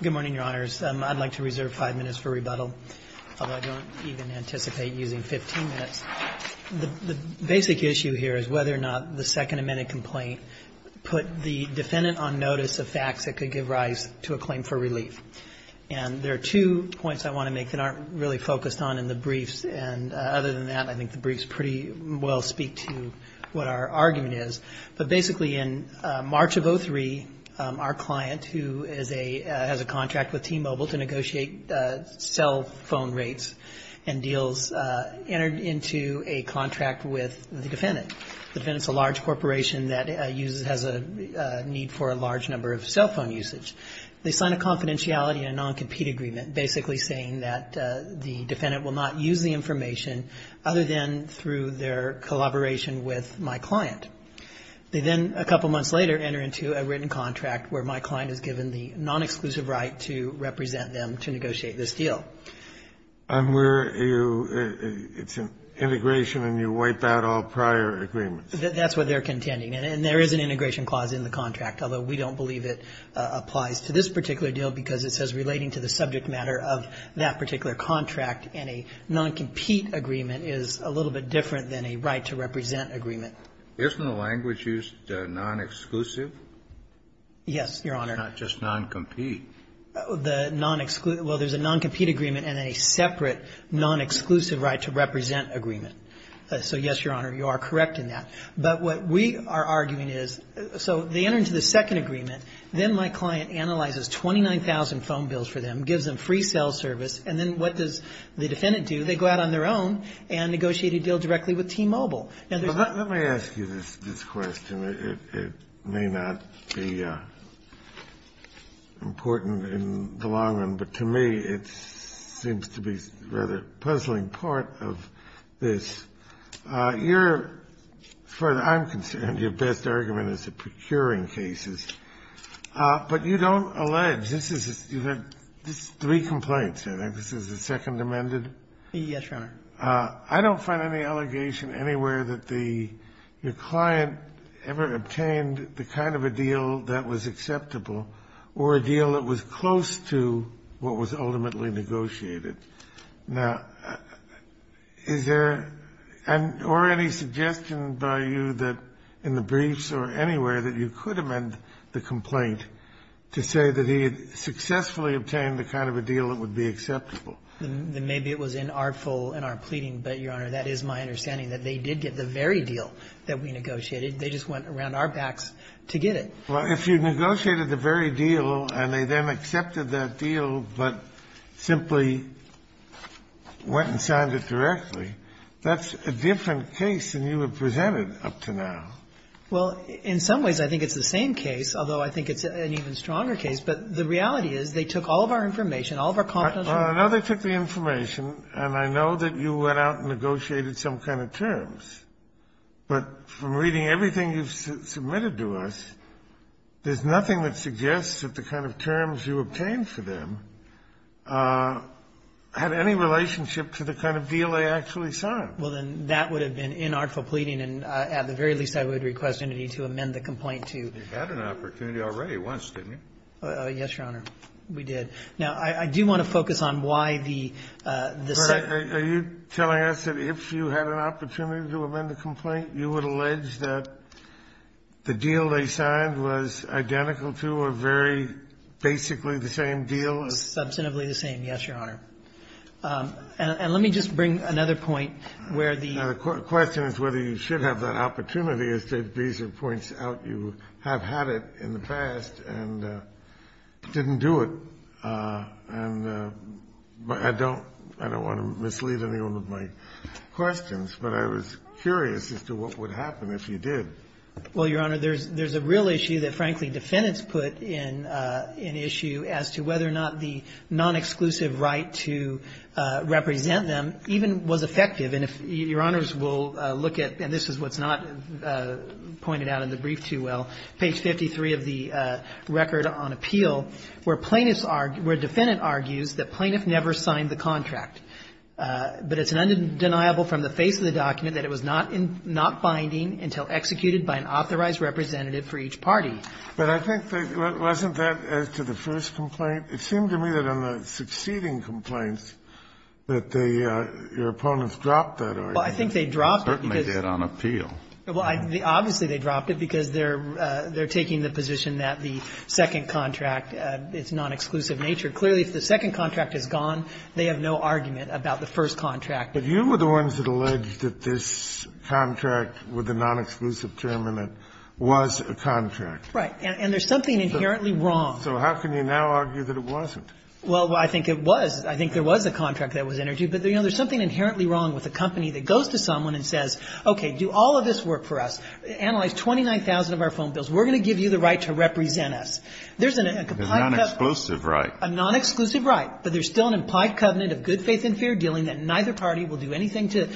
Good morning, Your Honors. I'd like to reserve five minutes for rebuttal, although I don't even anticipate using 15 minutes. The basic issue here is whether or not the Second Amendment complaint put the defendant on notice of facts that could give rise to a claim for relief. There are two points I want to make that aren't really focused on in the briefs. Other than that, I think the briefs pretty well speak to what our argument is. Basically, in March of 2003, our client, who has a contract with T-Mobile to negotiate cell phone rates and deals, entered into a contract with the defendant. The defendant is a large corporation that has a need for a large number of cell phone usage. They signed a confidentiality and a non-compete agreement basically saying that the defendant will not use the information other than through their collaboration with my client. They then, a couple months later, enter into a written contract where my client is given the non-exclusive right to represent them to negotiate this deal. And where you – it's an integration and you wipe out all prior agreements. That's what they're contending. And there is an integration clause in the contract, although we don't believe it applies to this particular deal because it says relating to the subject matter of that particular contract and a non-compete agreement is a little bit different than a right to represent agreement. Kennedy. Isn't the language used non-exclusive? Yes, Your Honor. Not just non-compete. The non-exclusive – well, there's a non-compete agreement and a separate non-exclusive right to represent agreement. So yes, Your Honor, you are correct in that. But what we are arguing is – so they enter into the second agreement. Then my client analyzes 29,000 phone bills for them, gives them free cell service, and then what does the defendant do? They go out on their own and negotiate a deal directly with T-Mobile. Let me ask you this question. It may not be important in the long run, but to me it seems to be a rather puzzling part of this. You're – as far as I'm concerned, your best argument is the procuring cases. But you don't allege – this is – you have three complaints, I think. This is the second amended? Yes, Your Honor. I don't find any allegation anywhere that the – your client ever obtained the kind of a deal that was acceptable or a deal that was close to what was ultimately negotiated. Now, is there an – or any suggestion by you that in the briefs or anywhere that you could amend the complaint to say that he had successfully obtained the kind of a deal that would be acceptable? Maybe it was inartful in our pleading, but, Your Honor, that is my understanding that they did get the very deal that we negotiated. They just went around our backs to get it. Well, if you negotiated the very deal and they then accepted that deal but simply went and signed it directly, that's a different case than you have presented up to now. Well, in some ways, I think it's the same case, although I think it's an even stronger case. But the reality is they took all of our information, all of our confidential information. I know they took the information, and I know that you went out and negotiated some kind of terms. But from reading everything you've submitted to us, there's nothing that suggests that the kind of terms you obtained for them had any relationship to the kind of deal they actually signed. Well, then, that would have been inartful pleading, and at the very least, I would request entity to amend the complaint to you. You had an opportunity already once, didn't you? Yes, Your Honor. Now, I do want to focus on why the second one. Are you telling us that if you had an opportunity to amend a complaint, you would allege that the deal they signed was identical to or very basically the same deal? Substantively the same, yes, Your Honor. And let me just bring another point where the question is whether you should have that opportunity. As Judge Bieser points out, you have had it in the past and didn't do it. And I don't want to mislead anyone with my questions, but I was curious as to what would happen if you did. Well, Your Honor, there's a real issue that, frankly, defendants put in issue as to whether or not the non-exclusive right to represent them even was effective. And if Your Honors will look at, and this is what's not pointed out in the brief too well, page 53 of the record on appeal, where plaintiffs argue, where a defendant argues that plaintiff never signed the contract, but it's undeniable from the face of the document that it was not binding until executed by an authorized representative for each party. But I think that wasn't that as to the first complaint. It seemed to me that on the succeeding complaints that they, your opponents Well, I think they dropped it because of the first complaint. Certainly did on appeal. Well, obviously they dropped it because they're taking the position that the second contract, its non-exclusive nature. Clearly, if the second contract is gone, they have no argument about the first contract. But you were the ones that alleged that this contract with the non-exclusive term in it was a contract. Right. And there's something inherently wrong. So how can you now argue that it wasn't? Well, I think it was. I think there was a contract that was entered into. But, you know, there's something inherently wrong with a company that goes to someone and says, okay, do all of this work for us. Analyze 29,000 of our phone bills. We're going to give you the right to represent us. There's a non-exclusive right. A non-exclusive right. But there's still an implied covenant of good faith and fair dealing that neither party will do anything to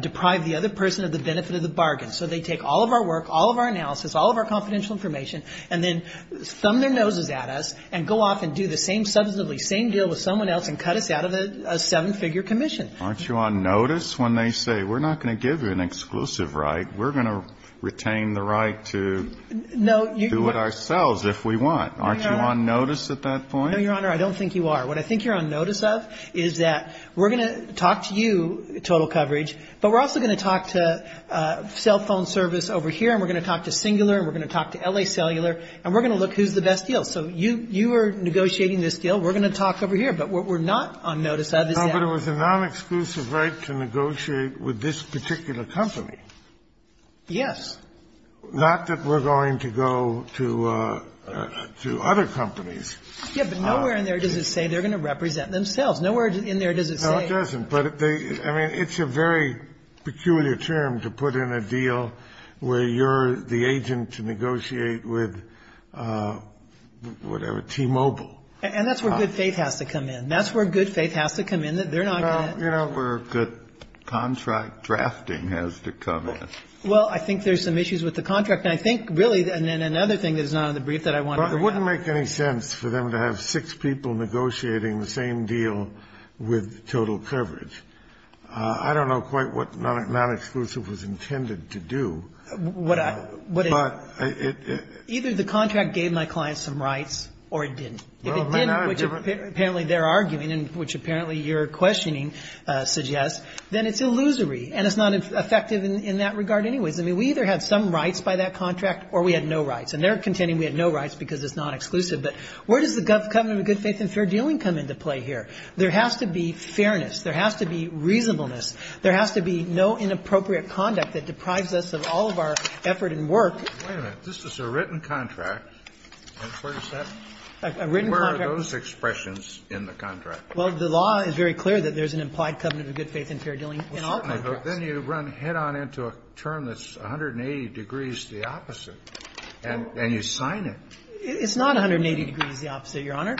deprive the other person of the benefit of the bargain. So they take all of our work, all of our analysis, all of our confidential information, and then thumb their noses at us and go off and do the same substantively same deal with someone else and cut us out of a seven-figure commission. Aren't you on notice when they say we're not going to give you an exclusive right? We're going to retain the right to do it ourselves if we want. Aren't you on notice at that point? No, Your Honor. I don't think you are. What I think you're on notice of is that we're going to talk to you, Total Coverage, but we're also going to talk to Cell Phone Service over here, and we're going to talk to Singular, and we're going to talk to L.A. Cellular, and we're going to look who's the best deal. So you are negotiating this deal. We're going to talk over here. But what we're not on notice of is that. No, but it was a non-exclusive right to negotiate with this particular company. Yes. Not that we're going to go to other companies. Yes, but nowhere in there does it say they're going to represent themselves. Nowhere in there does it say. No, it doesn't. But they – I mean, it's a very peculiar term to put in a deal where you're the agent to negotiate with whatever, T-Mobile. And that's where good faith has to come in. And that's where good faith has to come in. They're not going to – You know where good contract drafting has to come in. Well, I think there's some issues with the contract. And I think, really, and then another thing that's not on the brief that I want to bring up. Well, it wouldn't make any sense for them to have six people negotiating the same deal with Total Coverage. I don't know quite what non-exclusive was intended to do. What I – But it – Either the contract gave my client some rights or it didn't. If it didn't, which apparently they're arguing and which apparently your questioning suggests, then it's illusory and it's not effective in that regard anyways. I mean, we either had some rights by that contract or we had no rights. And they're contending we had no rights because it's non-exclusive. But where does the covenant of good faith and fair dealing come into play here? There has to be fairness. There has to be reasonableness. There has to be no inappropriate conduct that deprives us of all of our effort and work. Wait a minute. This is a written contract. Where is that? A written contract. Where are those expressions in the contract? Well, the law is very clear that there's an implied covenant of good faith and fair dealing in all contracts. Certainly. But then you run head-on into a term that's 180 degrees the opposite and you sign it. It's not 180 degrees the opposite, Your Honor.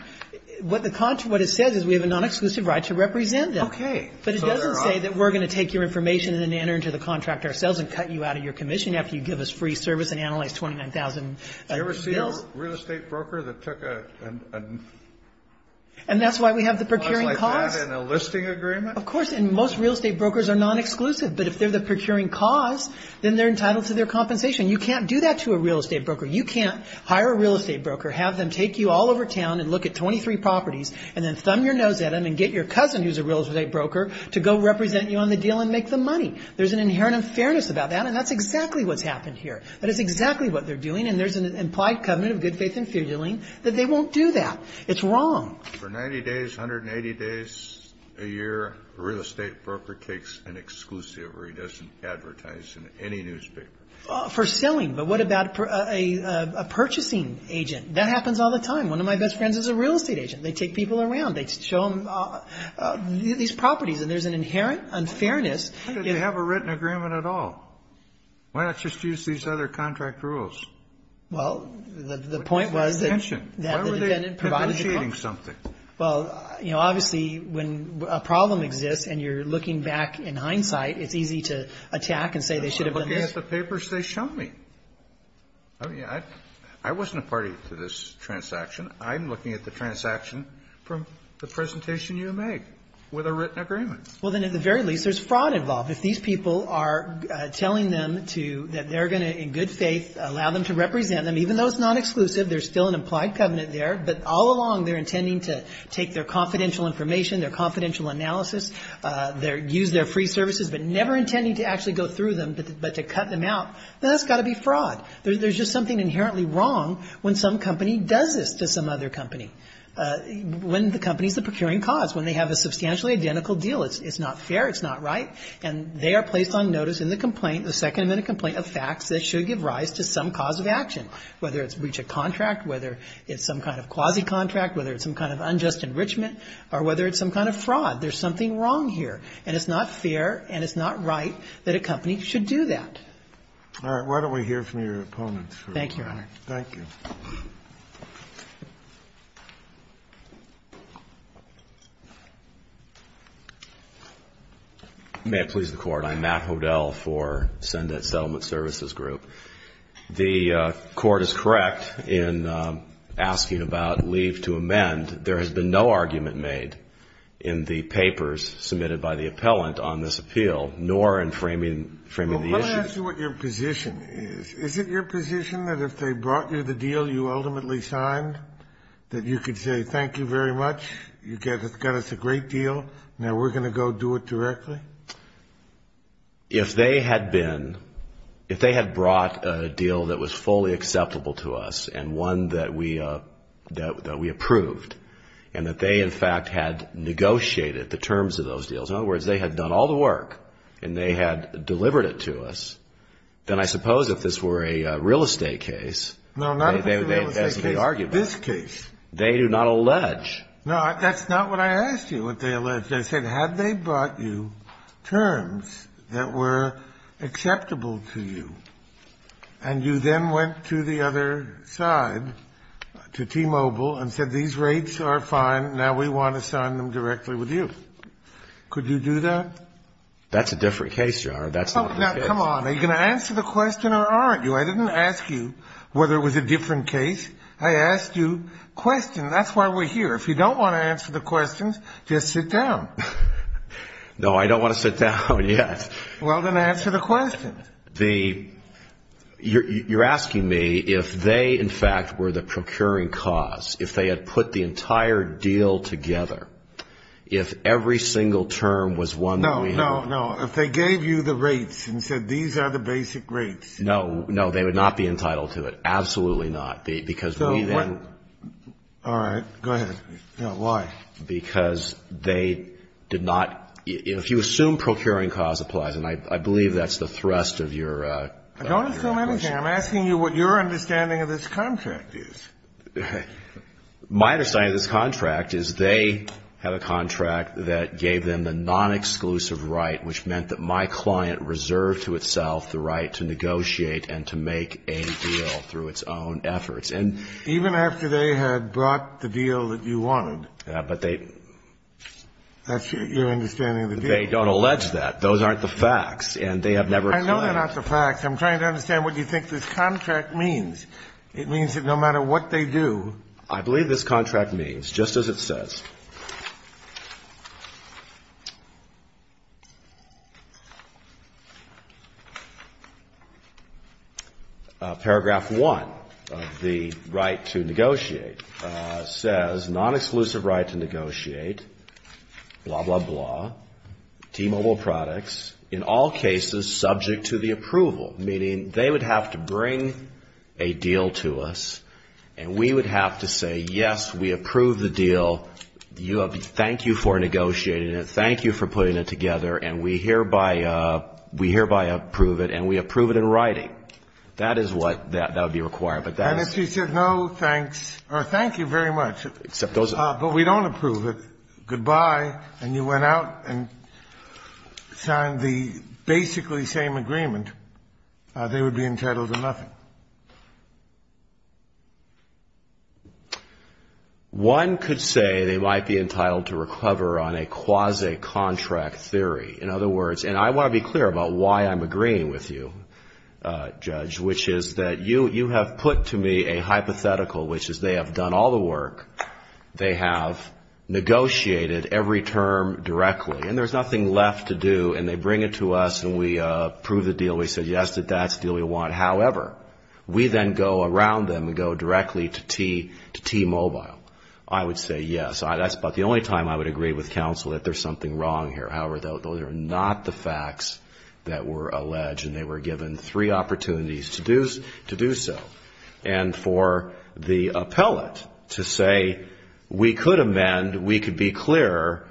What the contract – what it says is we have a non-exclusive right to represent them. Okay. But it doesn't say that we're going to take your information and then enter into the contract ourselves and cut you out of your commission after you give us free service and analyze 29,000 deals. Did you see a real estate broker that took a – And that's why we have the procuring cause. – clause like that in a listing agreement? Of course. And most real estate brokers are non-exclusive. But if they're the procuring cause, then they're entitled to their compensation. You can't do that to a real estate broker. You can't hire a real estate broker, have them take you all over town and look at 23 properties and then thumb your nose at them and get your cousin, who's a real estate broker, to go represent you on the deal and make them money. There's an inherent unfairness about that. And that's exactly what's happened here. That is exactly what they're doing. And there's an implied covenant of good faith and fideling that they won't do that. It's wrong. For 90 days, 180 days a year, a real estate broker takes an exclusive or he doesn't advertise in any newspaper. For selling. But what about a purchasing agent? That happens all the time. One of my best friends is a real estate agent. They take people around. They show them these properties. And there's an inherent unfairness. Why do they have a written agreement at all? Why not just use these other contract rules? Well, the point was that the defendant provided a contract. Why were they privileging something? Well, you know, obviously, when a problem exists and you're looking back in hindsight, it's easy to attack and say they should have done this. I'm looking at the papers they show me. I mean, I wasn't a party to this transaction. I'm looking at the transaction from the presentation you made with a written agreement. Well, then, at the very least, there's fraud involved. If these people are telling them that they're going to, in good faith, allow them to represent them, even though it's not exclusive, there's still an implied covenant there, but all along they're intending to take their confidential information, their confidential analysis, use their free services, but never intending to actually go through them but to cut them out, then that's got to be fraud. There's just something inherently wrong when some company does this to some other company, when the company's the procuring cause, when they have a substantially identical deal. It's not fair. It's not right. And they are placed on notice in the complaint, the second amendment complaint, of facts that should give rise to some cause of action, whether it's breach of contract, whether it's some kind of quasi-contract, whether it's some kind of unjust enrichment, or whether it's some kind of fraud. There's something wrong here. And it's not fair and it's not right that a company should do that. All right. Why don't we hear from your opponents. Thank you, Your Honor. Thank you. May it please the Court. I'm Matt Hodel for Sendet Settlement Services Group. The Court is correct in asking about leave to amend. There has been no argument made in the papers submitted by the appellant on this appeal, nor in framing the issue. Let me ask you what your position is. Is it your position that if they brought you the deal you ultimately signed, that you could say, thank you very much, you've got us a great deal, now we're going to go do it directly? If they had been, if they had brought a deal that was fully acceptable to us and one that we approved, and that they, in fact, had negotiated the terms of those deals, in other words, they had done all the work and they had delivered it to us, then I suppose if this were a real estate case, as they argue. No, not a real estate case. This case. They do not allege. No, that's not what I asked you, what they allege. They said, had they brought you terms that were acceptable to you, and you then went to the other side, to T-Mobile, and said, these rates are fine, now we want to sign them directly with you. Could you do that? That's a different case, Your Honor. That's not the case. Now, come on. Are you going to answer the question or aren't you? I didn't ask you whether it was a different case. I asked you questions. That's why we're here. If you don't want to answer the questions, just sit down. No, I don't want to sit down, yes. Well, then answer the questions. You're asking me if they, in fact, were the procuring cause, if they had put the entire deal together, if every single term was one million. No, no, no. If they gave you the rates and said, these are the basic rates. No, no. They would not be entitled to it. Absolutely not. Because we then. All right. Go ahead. Why? Because they did not, if you assume procuring cause applies, and I believe that's the thrust of your question. I don't assume anything. I'm asking you what your understanding of this contract is. My understanding of this contract is they have a contract that gave them the non-exclusive right, which meant that my client reserved to itself the right to negotiate and to make a deal through its own efforts. And even after they had brought the deal that you wanted. But they. That's your understanding of the deal. They don't allege that. Those aren't the facts. And they have never claimed. I know they're not the facts. I'm trying to understand what you think this contract means. It means that no matter what they do. I believe this contract means, just as it says. Paragraph 1 of the right to negotiate says non-exclusive right to negotiate, blah, blah, blah, T-Mobile products, in all cases subject to the approval. Meaning they would have to bring a deal to us. And we would have to say, yes, we approve the deal. Thank you for negotiating it. Thank you for putting it together. And we hereby approve it. And we approve it in writing. That is what that would be required. But that is. You said no, thanks, or thank you very much. But we don't approve it. Goodbye. And you went out and signed the basically same agreement. They would be entitled to nothing. One could say they might be entitled to recover on a quasi-contract theory. In other words, and I want to be clear about why I'm agreeing with you, Judge, which is that you have put to me a hypothetical, which is they have done all the work. They have negotiated every term directly. And there's nothing left to do. And they bring it to us and we approve the deal. We say, yes, that's the deal we want. However, we then go around them and go directly to T-Mobile. I would say yes. That's about the only time I would agree with counsel that there's something wrong here. However, those are not the facts that were alleged. They were given three opportunities to do so. And for the appellate to say we could amend, we could be clearer,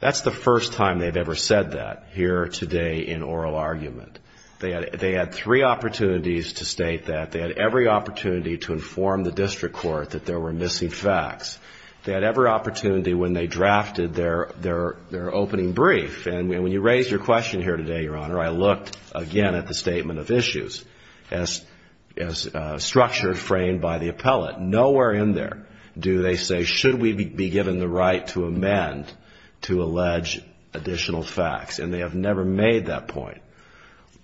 that's the first time they've ever said that here today in oral argument. They had three opportunities to state that. They had every opportunity to inform the district court that there were missing facts. They had every opportunity when they drafted their opening brief. And when you raised your question here today, Your Honor, I looked again at the statement of issues as structured, framed by the appellate. Nowhere in there do they say should we be given the right to amend to allege additional facts. And they have never made that point.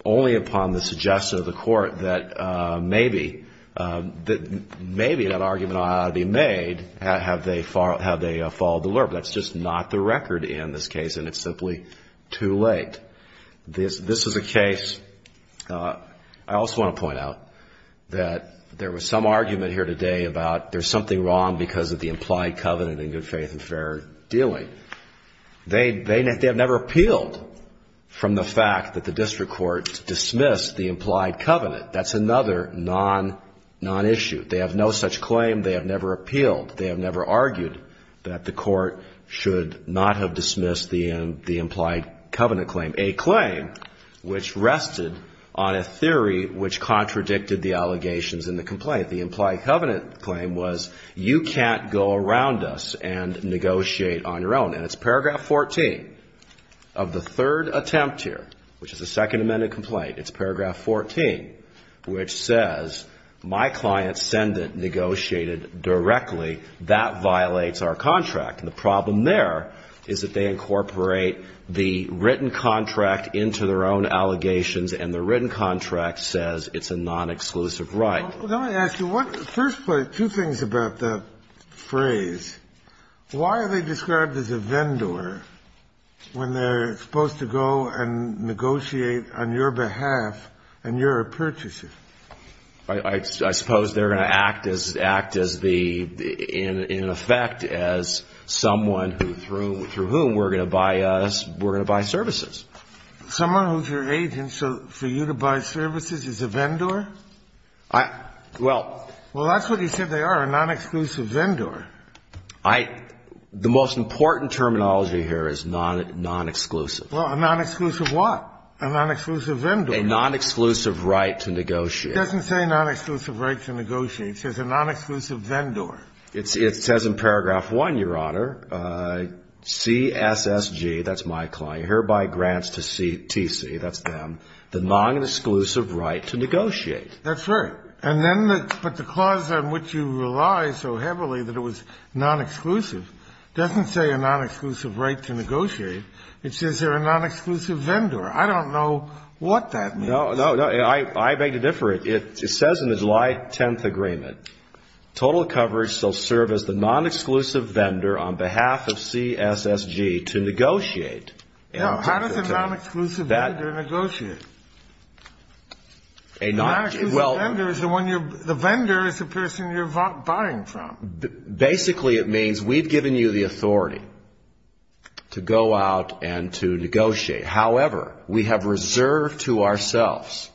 Only upon the suggestion of the court that maybe that argument ought to be made have they followed the law. But that's just not the record in this case. And it's simply too late. This is a case, I also want to point out that there was some argument here today about there's something wrong because of the implied covenant in good faith and fair dealing. They have never appealed from the fact that the district court dismissed the implied covenant. That's another non-issue. They have no such claim. They have never appealed. They have never argued that the court should not have dismissed the implied covenant claim. A claim which rested on a theory which contradicted the allegations in the complaint. The implied covenant claim was you can't go around us and negotiate on your own. And it's paragraph 14 of the third attempt here, which is the second amended complaint. It's paragraph 14, which says my clients send it negotiated directly. That violates our contract. And the problem there is that they incorporate the written contract into their own allegations, and the written contract says it's a non-exclusive right. Let me ask you, first, two things about that phrase. Why are they described as a vendor when they're supposed to go and negotiate on your behalf and your purchases? I suppose they're going to act as the, in effect, as someone through whom we're going to buy us, we're going to buy services. Someone who's your agent, so for you to buy services is a vendor? Well, that's what he said they are, a non-exclusive vendor. I, the most important terminology here is non-exclusive. Well, a non-exclusive what? A non-exclusive vendor. A non-exclusive right to negotiate. It doesn't say non-exclusive right to negotiate. It says a non-exclusive vendor. It says in paragraph 1, Your Honor, CSSG, that's my client, hereby grants to CTC, that's them, the non-exclusive right to negotiate. That's right. But the clause on which you rely so heavily that it was non-exclusive doesn't say a non-exclusive right to negotiate. It says they're a non-exclusive vendor. I don't know what that means. No, no. I beg to differ. It says in the July 10th agreement, total coverage shall serve as the non-exclusive vendor on behalf of CSSG to negotiate. How does a non-exclusive vendor negotiate? A non-exclusive vendor is the vendor is the person you're buying from. Basically, it means we've given you the authority to go out and to negotiate. However, we have reserved to ourselves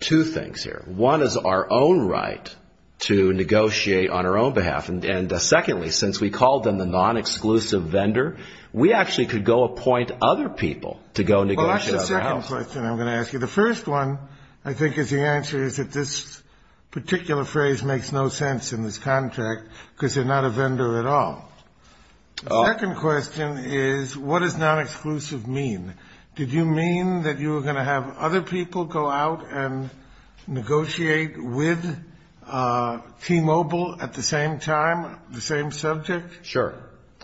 two things here. One is our own right to negotiate on our own behalf. And secondly, since we called them the non-exclusive vendor, we actually could go appoint other people to go negotiate on our behalf. Watch the second question I'm going to ask you. The first one, I think, is the answer is that this particular phrase makes no sense in this contract because they're not a vendor at all. The second question is what does non-exclusive mean? Did you mean that you were going to have other people go out and negotiate with T-Mobile at the same time, the same subject? Sure.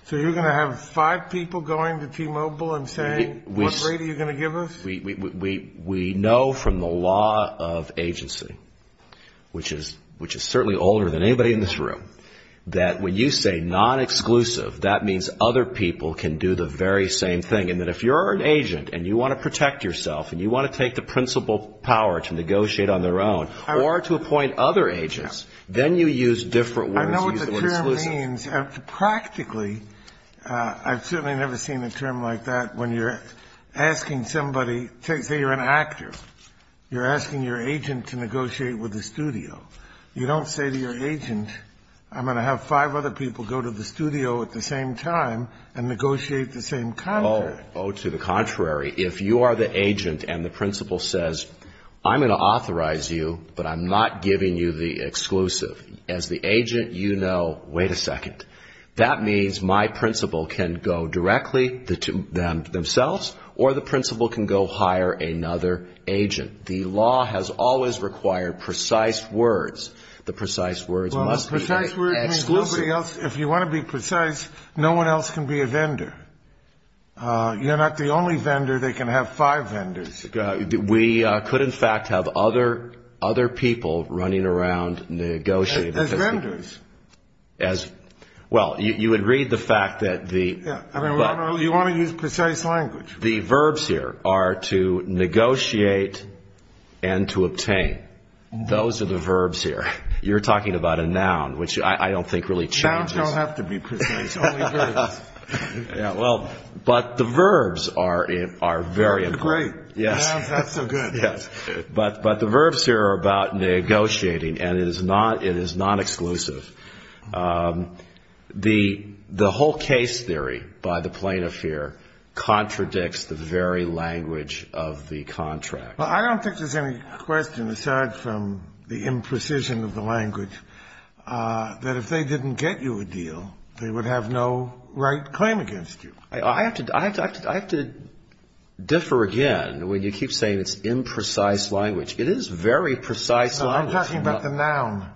So you're going to have five people going to T-Mobile and saying what rate are you going to give us? We know from the law of agency, which is certainly older than anybody in this room, that when you say non-exclusive, that means other people can do the very same thing. And that if you're an agent and you want to protect yourself and you want to take the principal power to negotiate on their own or to appoint other agents, then you use different words. I know what the term means. Practically, I've certainly never seen a term like that when you're asking somebody to say you're an actor. You're asking your agent to negotiate with the studio. You don't say to your agent, I'm going to have five other people go to the studio at the same time and negotiate the same contract. Oh, to the contrary. If you are the agent and the principal says, I'm going to authorize you, but I'm not giving you the exclusive, as the agent you know, wait a second, that means my principal can go directly to themselves or the principal can go hire another agent. The law has always required precise words. The precise words must be exclusive. Well, precise words mean nobody else. If you want to be precise, no one else can be a vendor. You're not the only vendor. They can have five vendors. We could, in fact, have other people running around negotiating. As vendors. Well, you would read the fact that the... You want to use precise language. The verbs here are to negotiate and to obtain. Those are the verbs here. You're talking about a noun, which I don't think really changes. Nouns don't have to be precise, only verbs. But the verbs are very important. Great. Nouns, that's so good. But the verbs here are about negotiating, and it is not exclusive. The whole case theory by the plaintiff here contradicts the very language of the contract. I don't think there's any question, aside from the imprecision of the language, that if they didn't get you a deal, they would have no right claim against you. I have to differ again when you keep saying it's imprecise language. It is very precise language. No, I'm talking about the noun.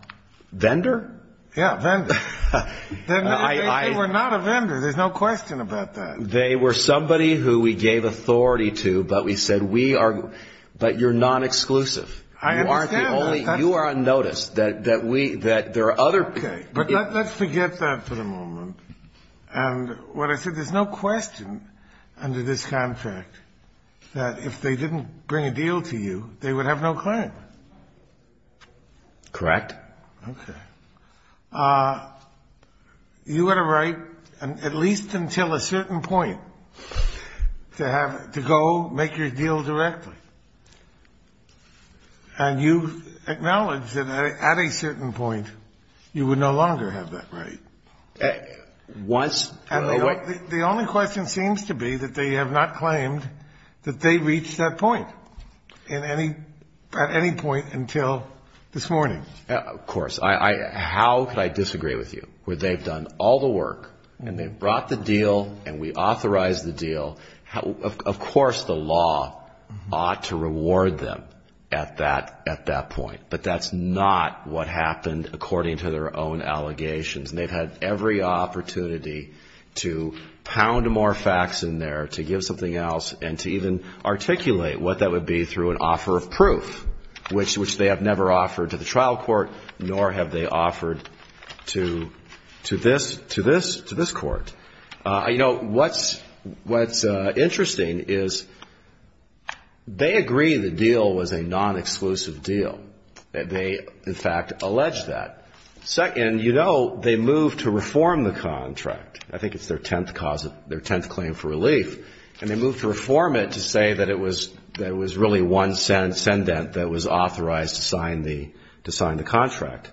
Vendor? Yeah, vendor. They were not a vendor. There's no question about that. They were somebody who we gave authority to, but we said we are... But you're non-exclusive. I understand that. Only you are unnoticed, that there are other... Okay, but let's forget that for the moment. And what I said, there's no question under this contract that if they didn't bring a deal to you, they would have no claim. Correct. Okay. You had a right, at least until a certain point, to go make your deal directly. And you acknowledged that at a certain point, you would no longer have that right. Was... And the only question seems to be that they have not claimed that they reached that point in any... at any point until this morning. Of course. How could I disagree with you? Where they've done all the work, and they've brought the deal, and we authorized the deal. Of course the law ought to reward them at that point. But that's not what happened according to their own allegations. And they've had every opportunity to pound more facts in there, to give something else, and to even articulate what that would be through an offer of proof, which they have never offered to the trial court, nor have they offered to this court. You know, what's interesting is they agree the deal was a non-exclusive deal. They, in fact, allege that. And, you know, they moved to reform the contract. I think it's their tenth claim for relief. And they moved to reform it to say that it was really one sendent that was authorized to sign the contract.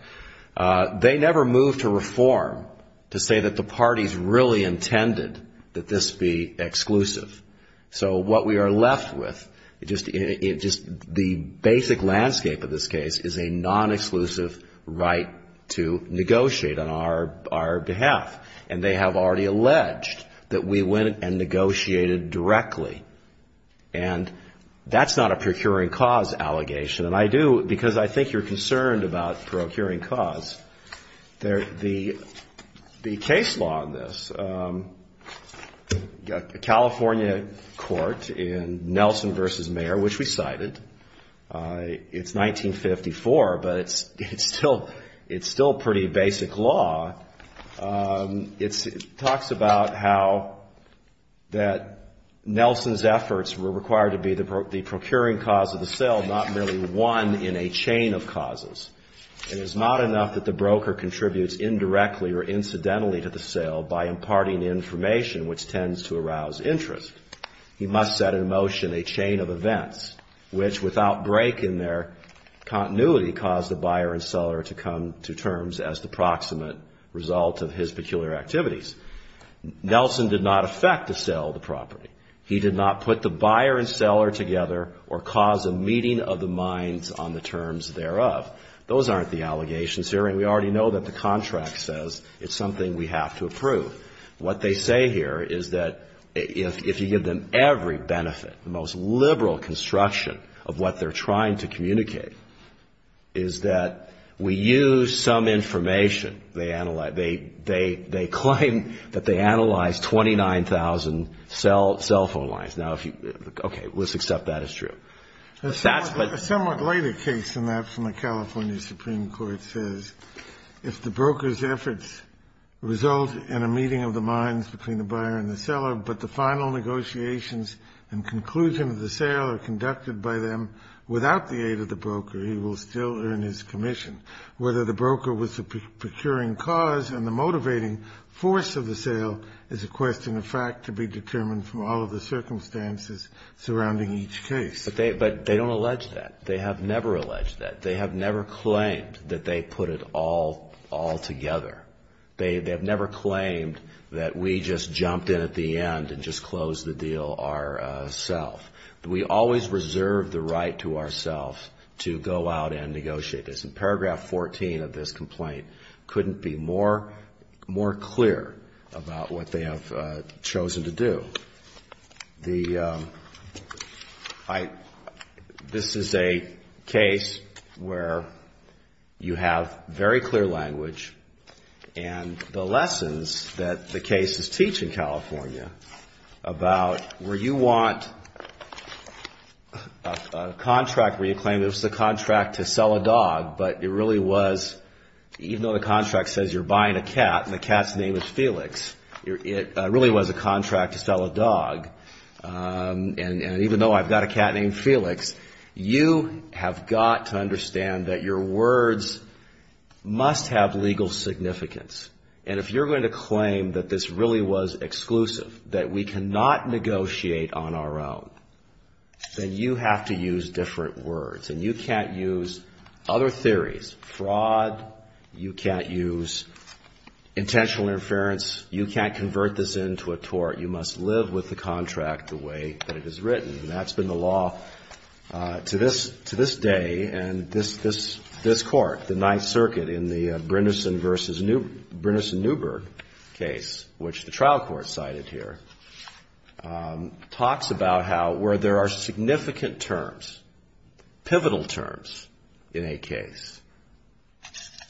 They never moved to reform to say that the parties really intended that this be exclusive. So what we are left with, just the basic landscape of this case, is a non-exclusive right to negotiate on our behalf. And they have already alleged that we went and negotiated directly. And that's not a procuring cause allegation. And I do, because I think you're concerned about procuring cause. The case law on this, California court in Nelson v. Mayer, which we cited, it's 1954, but it's still pretty basic law. It talks about how that Nelson's efforts were required to be the procuring cause of the sale, not merely one in a chain of causes. It is not enough that the broker contributes indirectly or incidentally to the sale by imparting information, which tends to arouse interest. He must set in motion a chain of events which, without break in their continuity, cause the buyer and seller to come to terms as the proximate result of his peculiar activities. Nelson did not affect the sale of the property. He did not put the buyer and seller together or cause a meeting of the minds on the terms thereof. Those aren't the allegations here. And we already know that the contract says it's something we have to approve. What they say here is that if you give them every benefit, the most liberal construction of what they're trying to communicate, is that we use some information. They claim that they analyzed 29,000 cell phone lines. Now, okay, let's accept that as true. That's what the ---- A somewhat later case in that from the California Supreme Court says, if the broker's efforts result in a meeting of the minds between the buyer and the seller, but the final negotiations and conclusion of the sale are conducted by them without the aid of the broker, he will still earn his commission. Whether the broker was the procuring cause and the motivating force of the sale is a question of fact to be determined from all of the circumstances surrounding each case. But they don't allege that. They have never alleged that. They have never claimed that they put it all together. They have never claimed that we just jumped in at the end and just closed the deal ourselves. We always reserve the right to ourselves to go out and negotiate this. And paragraph 14 of this complaint couldn't be more clear about what they have chosen to do. This is a case where you have very clear language and the lessons that the cases teach in California about where you want a contract where you claim it was a contract to sell a dog, but it really was, even though the contract says you're buying a cat and the cat's name is Felix, it really was a contract to sell a dog. And even though I've got a cat named Felix, you have got to understand that your words must have legal significance. And if you're going to claim that this really was exclusive, that we cannot negotiate on our own, then you have to use different words. And you can't use other theories, fraud. You can't use intentional interference. You can't convert this into a tort. You must live with the contract the way that it is written. And that's been the law to this day and this court, the Ninth Circuit in the Brindison v. Newberg case, which the trial court cited here, talks about how where there are significant terms, pivotal terms in a case,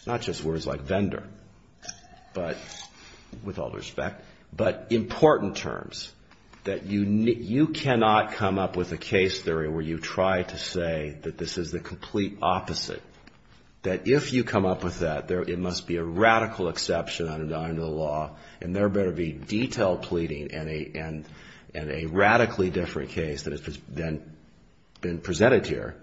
not just words like vendor, with all due respect, but important terms, that you cannot come up with a case theory where you try to say that this is the complete opposite, that if you come up with that, it must be a radical exception under the law, and there better be detailed pleading and a radically different case than has been presented here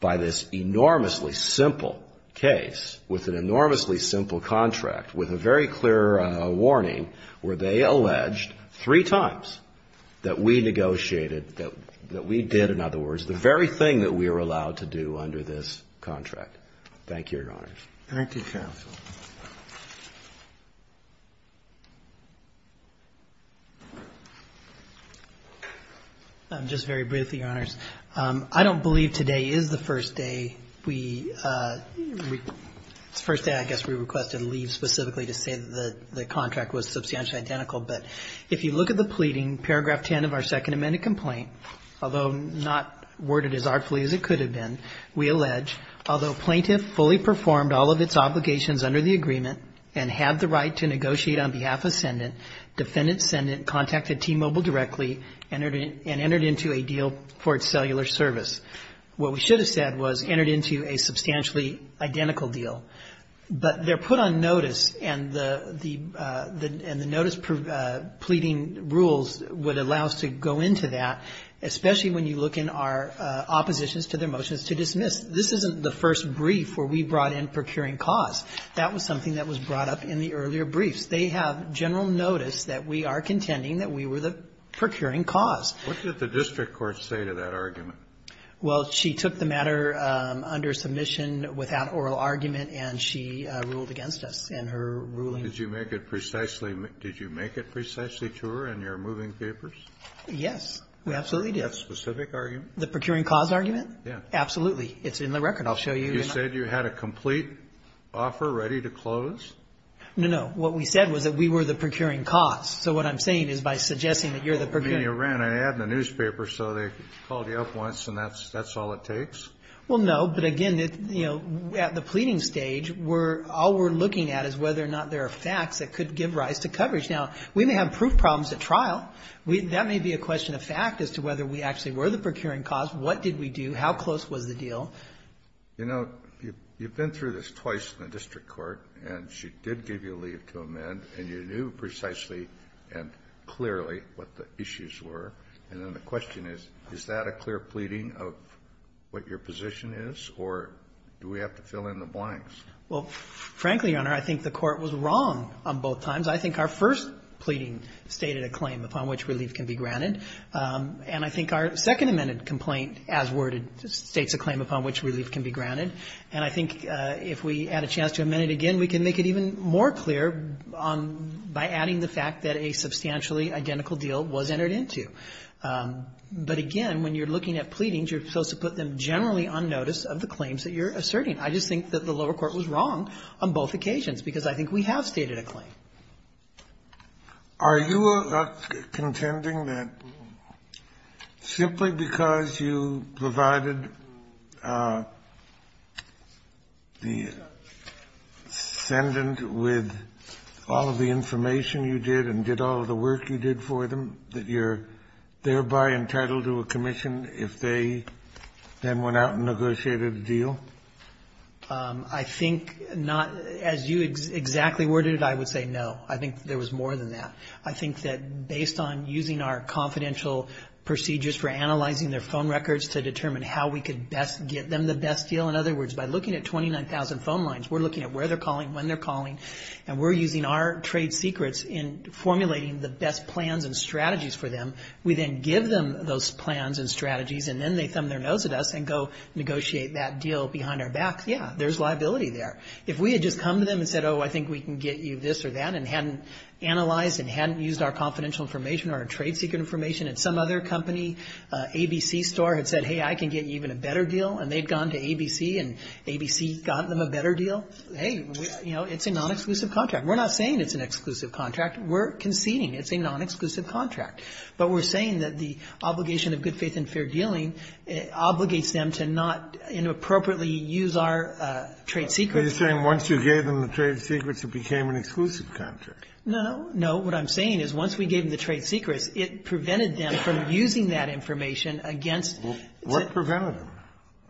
by this enormously simple case with an enormously simple contract with a very clear warning where they alleged three times that we negotiated, that we did, in other words, the very thing that we were allowed to do under this contract. Thank you, Your Honors. Thank you, Counsel. I'm just very brief, Your Honors. I don't believe today is the first day we requested leave specifically to say that the contract was substantially identical. But if you look at the pleading, Paragraph 10 of our Second Amendment complaint, although not worded as artfully as it could have been, we allege, although plaintiff fully performed all of its obligations under the agreement and had the right to negotiate on behalf of the defendant, contacted T-Mobile directly and entered into a deal for its cellular service. What we should have said was entered into a substantially identical deal. But they're put on notice, and the notice pleading rules would allow us to go into that, especially when you look in our oppositions to their motions to dismiss. This isn't the first brief where we brought in procuring costs. That was something that was brought up in the earlier briefs. They have general notice that we are contending that we were the procuring cause. What did the district court say to that argument? Well, she took the matter under submission without oral argument, and she ruled against us in her ruling. Did you make it precisely true in your moving papers? Yes, we absolutely did. That specific argument? The procuring cause argument? Yes. Absolutely. It's in the record. I'll show you. You said you had a complete offer ready to close? No, no. What we said was that we were the procuring cause. So what I'm saying is by suggesting that you're the procuring cause. You ran ahead in the newspaper so they called you up once and that's all it takes? Well, no. But, again, at the pleading stage, all we're looking at is whether or not there are facts that could give rise to coverage. Now, we may have proof problems at trial. That may be a question of fact as to whether we actually were the procuring cause. What did we do? How close was the deal? You know, you've been through this twice in the district court, and she did give you leave to amend, and you knew precisely and clearly what the issues were. And then the question is, is that a clear pleading of what your position is, or do we have to fill in the blanks? Well, frankly, Your Honor, I think the Court was wrong on both times. I think our first pleading stated a claim upon which relief can be granted. And I think our second amended complaint as worded states a claim upon which relief can be granted. And I think if we add a chance to amend it again, we can make it even more clear by adding the fact that a substantially identical deal was entered into. But, again, when you're looking at pleadings, you're supposed to put them generally on notice of the claims that you're asserting. I just think that the lower court was wrong on both occasions, because I think we have stated a claim. Are you contending that simply because you provided the ascendant with all of the information you did and did all of the work you did for them that you're thereby entitled to a commission if they then went out and negotiated a deal? I think not. As you exactly worded it, I would say no. I think there was more than that. I think that based on using our confidential procedures for analyzing their phone records to determine how we could best get them the best deal. In other words, by looking at 29,000 phone lines, we're looking at where they're calling, when they're calling, and we're using our trade secrets in formulating the best plans and strategies for them. We then give them those plans and strategies, and then they thumb their nose at us and say, oh, negotiate that deal behind our back. Yeah, there's liability there. If we had just come to them and said, oh, I think we can get you this or that, and hadn't analyzed and hadn't used our confidential information, our trade secret information, and some other company, ABC Store, had said, hey, I can get you even a better deal, and they'd gone to ABC and ABC got them a better deal, hey, you know, it's a non-exclusive contract. We're not saying it's an exclusive contract. We're conceding it's a non-exclusive contract. But we're saying that the obligation of good faith and fair dealing obligates them to not inappropriately use our trade secrets. Kennedy. Are you saying once you gave them the trade secrets, it became an exclusive contract? No. No. What I'm saying is once we gave them the trade secrets, it prevented them from using that information against the trade secrets. Well, what prevented them?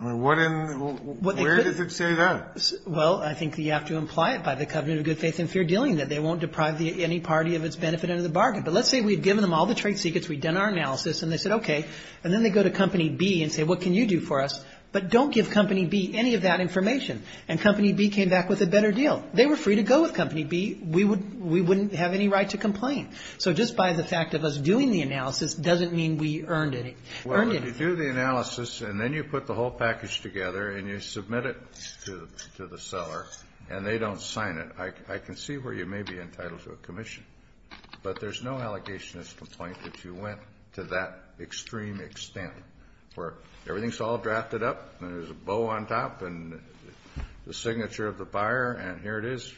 I mean, what in the world? Where does it say that? Well, I think you have to imply it by the covenant of good faith and fair dealing, that they won't deprive any party of its benefit under the bargain. But let's say we had given them all the trade secrets, we'd done our analysis, and they said, okay. And then they go to Company B and say, what can you do for us? But don't give Company B any of that information. And Company B came back with a better deal. They were free to go with Company B. We wouldn't have any right to complain. So just by the fact of us doing the analysis doesn't mean we earned any. Well, you do the analysis, and then you put the whole package together, and you submit it to the seller, and they don't sign it. I can see where you may be entitled to a commission. But there's no allegation as to the point that you went to that extreme extent where everything's all drafted up, and there's a bow on top, and the signature of the buyer, and here it is.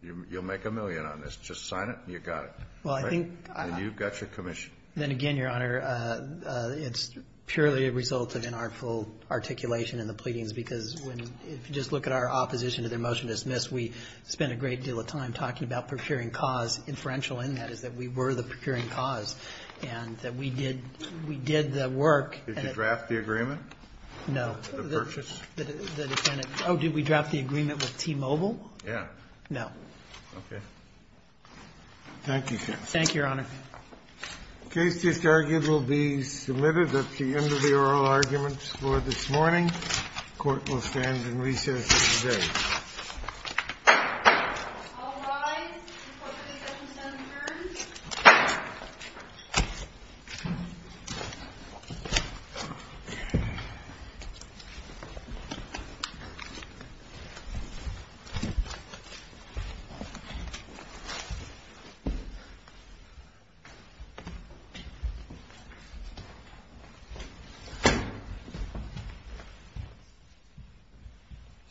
You'll make a million on this. Just sign it, and you got it. Right? And you've got your commission. Then again, Your Honor, it's purely a result of inartful articulation in the pleadings, because when you just look at our opposition to their motion to dismiss, we spent a great deal of time talking about procuring cause. Inferential in that is that we were the procuring cause, and that we did the work. Did you draft the agreement? No. The purchase? The defendant. Oh, did we draft the agreement with T-Mobile? Yeah. No. Okay. Thank you, sir. Thank you, Your Honor. The case just argued will be submitted. That's the end of the oral arguments for this morning. The Court will stand in recess today.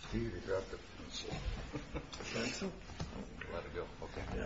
Steve, you dropped a pencil. A pencil? Let it go. Okay. Yeah. Thank you. Thank you.